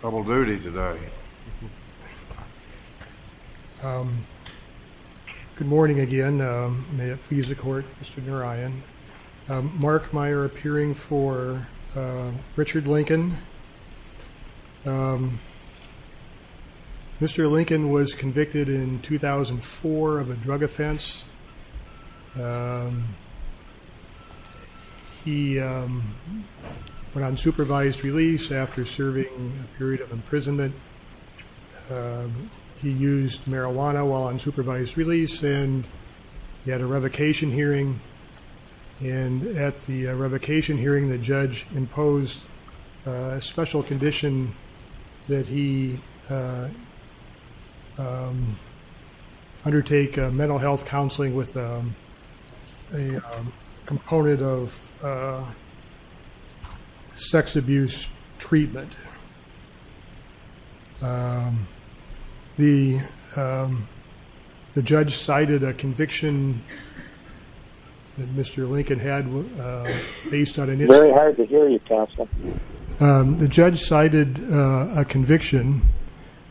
Double duty today. Good morning again. May it please the court, Mr. Narayan. Mark Meyer appearing for Richard Lincoln. Mr. Lincoln was convicted in 2004 of a drug offense. He went on supervised release after serving a period of imprisonment. He used marijuana while on supervised release and he had a revocation hearing. And at the revocation hearing the judge imposed a special condition that he undertake mental health counseling with a component of sex abuse treatment. The judge cited a conviction that Mr. Lincoln had based on... It's very hard to hear you, counsel. The judge cited a conviction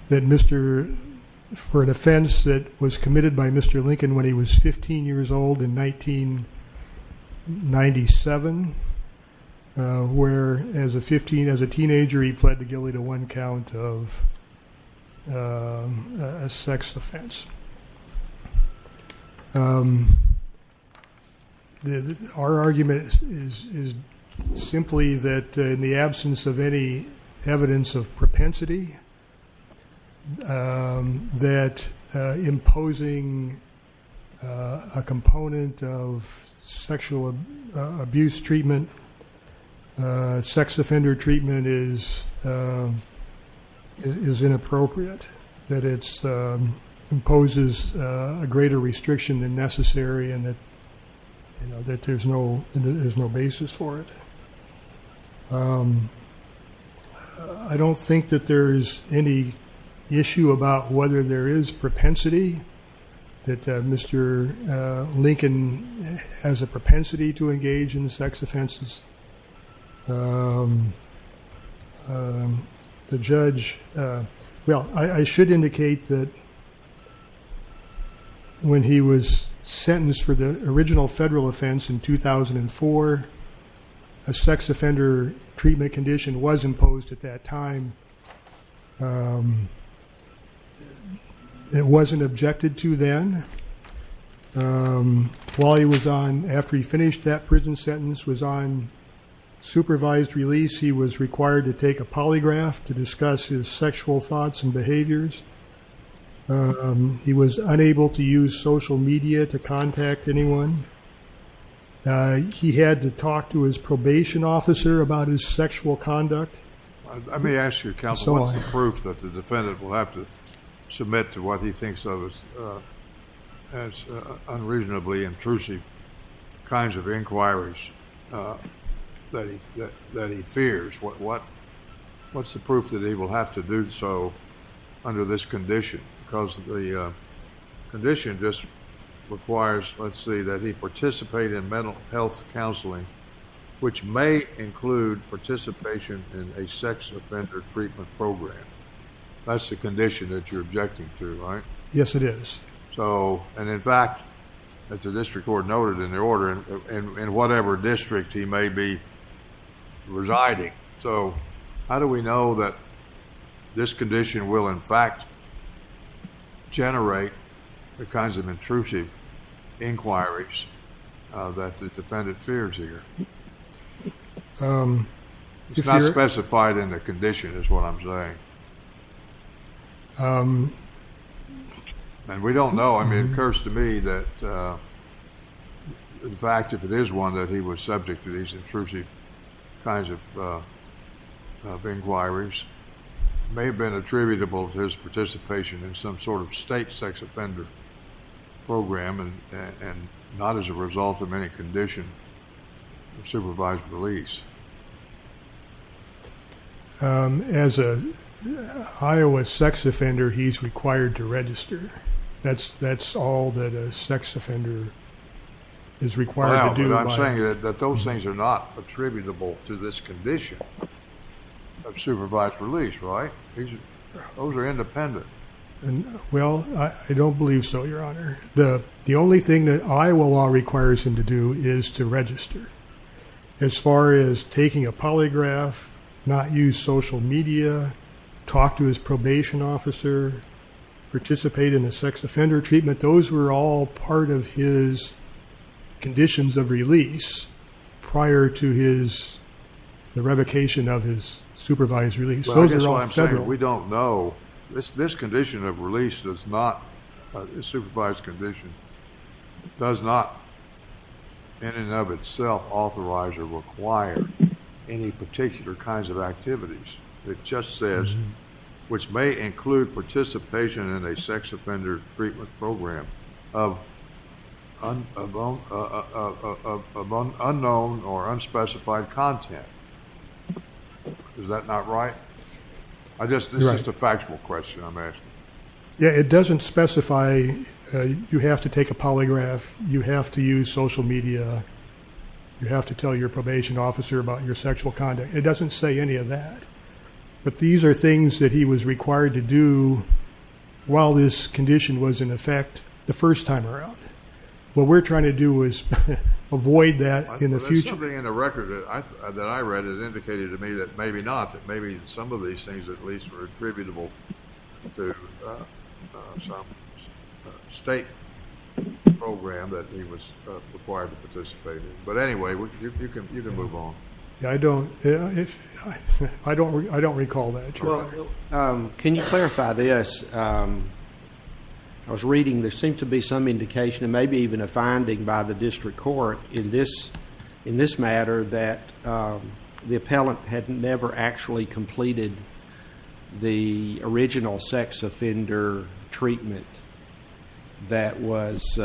for an offense that was committed by Mr. Lincoln when he was 15 years old in 1997, where as a teenager he pled guilty to one count of a sex offense. Our argument is simply that in the absence of any evidence of propensity, that imposing a component of sexual abuse treatment, sex offender treatment is inappropriate, that it imposes a greater restriction than necessary and that there's no basis for it. I don't think that there's any issue about whether there is propensity, that Mr. Lincoln has a propensity to engage in sex offenses. The judge... Well, I should indicate that when he was sentenced for the original federal offense in 2004, a sex offender treatment condition was imposed at that time. It wasn't objected to then. While he was on, after he finished that prison sentence, was on supervised release, he was required to take a polygraph to discuss his sexual thoughts and behaviors. He was unable to use social media to contact anyone. He had to talk to his probation officer about his sexual conduct. I may ask you, counsel, what's the proof that the defendant will have to submit to what he thinks of as unreasonably intrusive kinds of inquiries that he fears? What's the proof that he will have to do so under this condition? Because the condition just requires, let's see, that he participate in mental health counseling, which may include participation in a sex offender treatment program. That's the condition that you're objecting to, right? Yes, it is. In fact, the district court noted in their order, in whatever district he may be residing. So how do we know that this condition will, in fact, generate the kinds of intrusive inquiries that the defendant fears here? It's not specified in the condition is what I'm saying. And we don't know. I mean, it occurs to me that, in fact, if it is one that he was subject to these intrusive kinds of inquiries, it may have been attributable to his participation in some sort of state sex offender program and not as a result of any condition of supervised release. As an Iowa sex offender, he's required to register. That's all that a sex offender is required to do. But I'm saying that those things are not attributable to this condition of supervised release, right? Those are independent. Well, I don't believe so, Your Honor. The only thing that Iowa law requires him to do is to register. As far as taking a polygraph, not use social media, talk to his probation officer, participate in a sex offender treatment, those were all part of his conditions of release prior to the revocation of his supervised release. Well, I guess what I'm saying, we don't know. This condition of release does not, this supervised condition, does not in and of itself authorize or require any particular kinds of activities. It just says, which may include participation in a sex offender treatment program of unknown or unspecified content. Is that not right? This is just a factual question I'm asking. Yeah, it doesn't specify you have to take a polygraph, you have to use social media, you have to tell your probation officer about your sexual conduct. It doesn't say any of that. But these are things that he was required to do while this condition was in effect the first time around. What we're trying to do is avoid that in the future. There's something in the record that I read that indicated to me that maybe not, that maybe some of these things at least were attributable to some state program that he was required to participate in. But anyway, you can move on. I don't recall that. Can you clarify this? I was reading there seemed to be some indication, and maybe even a finding by the district court in this matter, that the appellant had never actually completed the original sex offender treatment that was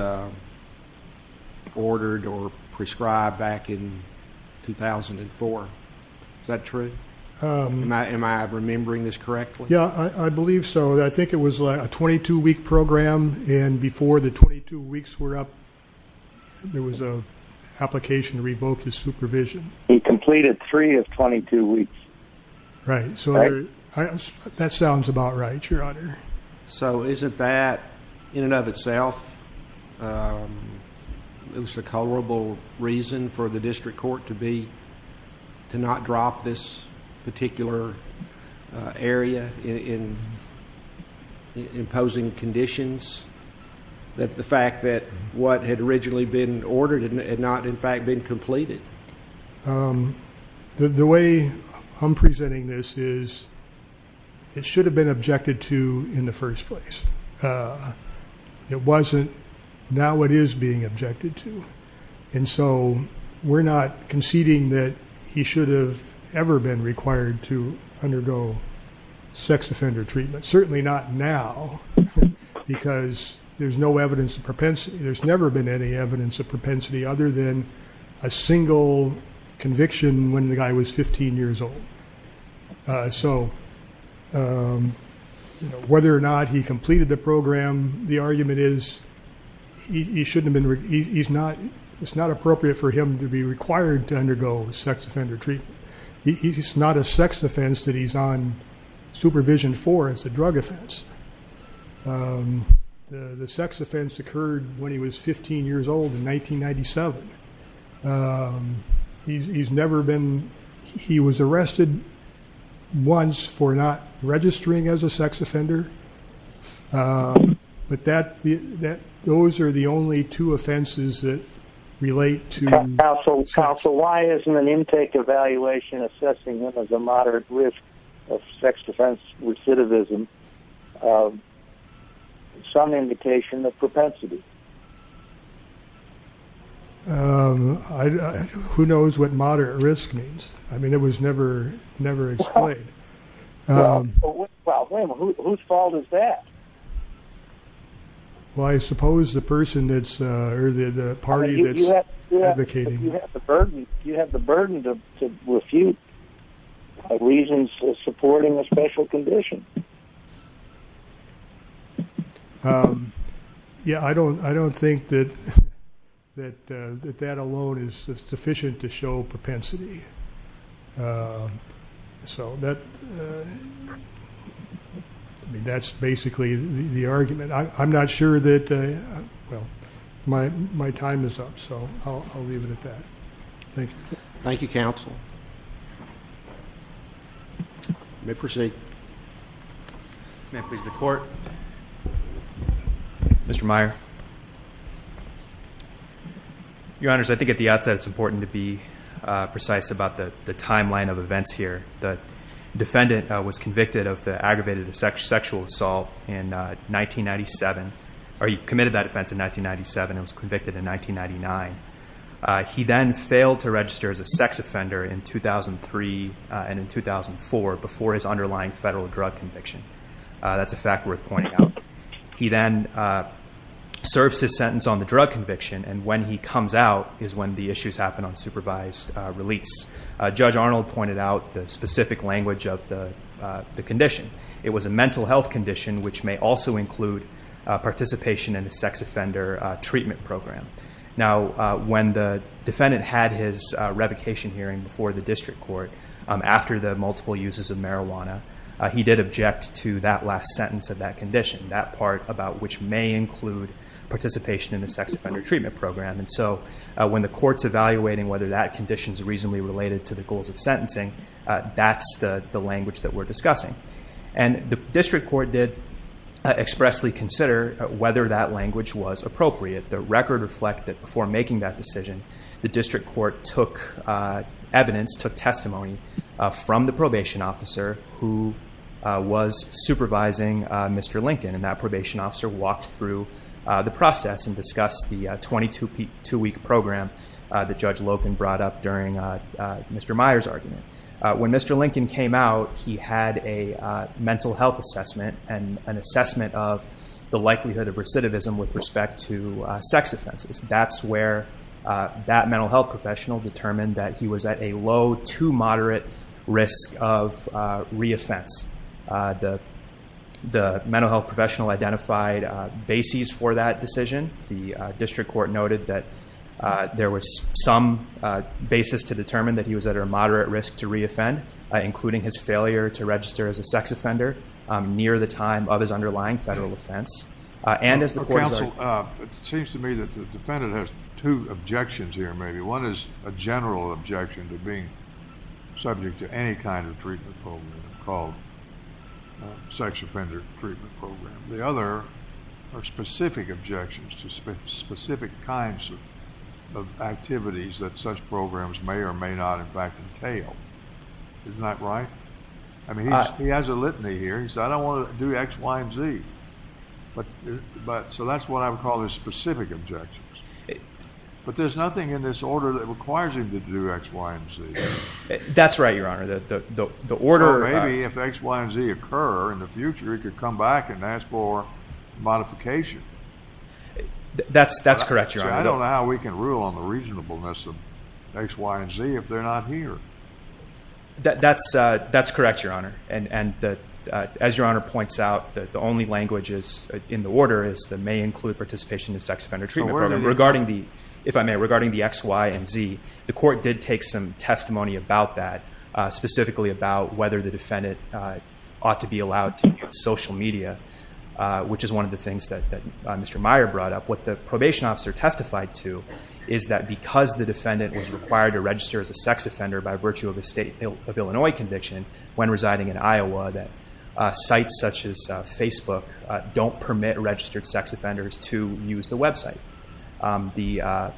ordered or prescribed back in 2004. Is that true? Am I remembering this correctly? Yeah, I believe so. I think it was a 22-week program, and before the 22 weeks were up, there was an application to revoke his supervision. He completed three of 22 weeks. Right, so that sounds about right, Your Honor. Isn't that, in and of itself, it was a culpable reason for the district court to not drop this particular area in imposing conditions, that the fact that what had originally been ordered had not, in fact, been completed? The way I'm presenting this is it should have been objected to in the first place. It wasn't. Now it is being objected to. And so we're not conceding that he should have ever been required to undergo sex offender treatment, certainly not now, because there's no evidence of propensity. There's never been any evidence of propensity other than a single conviction when the guy was 15 years old. So whether or not he completed the program, the argument is it's not appropriate for him to be required to undergo sex offender treatment. It's not a sex offense that he's on supervision for. It's a drug offense. The sex offense occurred when he was 15 years old in 1997. He was arrested once for not registering as a sex offender. But those are the only two offenses that relate to sex. Counsel, why isn't an intake evaluation assessing him as a moderate risk of sex defense recidivism some indication of propensity? Who knows what moderate risk means? I mean, it was never explained. Well, wait a minute. Whose fault is that? Well, I suppose the person that's or the party that's advocating. You have the burden to refute reasons supporting a special condition. Yeah, I don't think that that alone is sufficient to show propensity. So that's basically the argument. I'm not sure that my time is up, so I'll leave it at that. Thank you. Thank you, Counsel. You may proceed. May I please have the Court? Mr. Meyer. Your Honors, I think at the outset it's important to be precise about the timeline of events here. The defendant was convicted of the aggravated sexual assault in 1997, or he committed that offense in 1997 and was convicted in 1999. He then failed to register as a sex offender in 2003 and in 2004 before his underlying federal drug conviction. That's a fact worth pointing out. He then serves his sentence on the drug conviction, and when he comes out is when the issues happen on supervised release. Judge Arnold pointed out the specific language of the condition. It was a mental health condition, which may also include participation in a sex offender treatment program. Now, when the defendant had his revocation hearing before the district court, after the multiple uses of marijuana, he did object to that last sentence of that condition, that part about which may include participation in a sex offender treatment program. When the court's evaluating whether that condition is reasonably related to the goals of sentencing, that's the language that we're discussing. The district court did expressly consider whether that language was appropriate. The record reflected that before making that decision, the district court took evidence, took testimony, from the probation officer who was supervising Mr. Lincoln. That probation officer walked through the process and discussed the 22-week program that Judge Loken brought up during Mr. Meyer's argument. When Mr. Lincoln came out, he had a mental health assessment and an assessment of the likelihood of recidivism with respect to sex offenses. That's where that mental health professional determined that he was at a low to moderate risk of reoffense. The mental health professional identified bases for that decision. The district court noted that there was some basis to determine that he was at a moderate risk to reoffend, including his failure to register as a sex offender near the time of his underlying federal offense. Counsel, it seems to me that the defendant has two objections here, maybe. One is a general objection to being subject to any kind of treatment program called sex offender treatment program. The other are specific objections to specific kinds of activities that such programs may or may not, in fact, entail. Isn't that right? I mean, he has a litany here. He said, I don't want to do X, Y, and Z. So that's what I would call his specific objections. But there's nothing in this order that requires him to do X, Y, and Z. That's right, Your Honor. Or maybe if X, Y, and Z occur in the future, he could come back and ask for modification. That's correct, Your Honor. I don't know how we can rule on the reasonableness of X, Y, and Z if they're not here. That's correct, Your Honor. As Your Honor points out, the only language in the order is that it may include participation in sex offender treatment program. If I may, regarding the X, Y, and Z, the court did take some testimony about that, specifically about whether the defendant ought to be allowed to use social media, which is one of the things that Mr. Meyer brought up. What the probation officer testified to is that because the defendant was required to register as a sex offender by virtue of a state of Illinois conviction when residing in Iowa, that sites such as Facebook don't permit registered sex offenders to use the website. The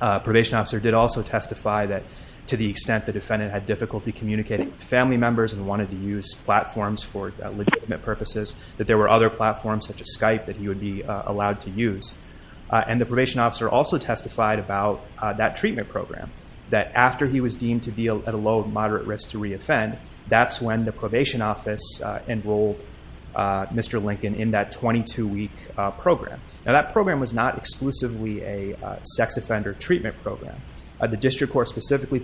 probation officer did also testify that to the extent the defendant had difficulty communicating with family members and wanted to use platforms for legitimate purposes, that there were other platforms such as Skype that he would be allowed to use. And the probation officer also testified about that treatment program, that after he was deemed to be at a low or moderate risk to re-offend, that's when the probation office enrolled Mr. Lincoln in that 22-week program. Now, that program was not exclusively a sex offender treatment program. The district court specifically...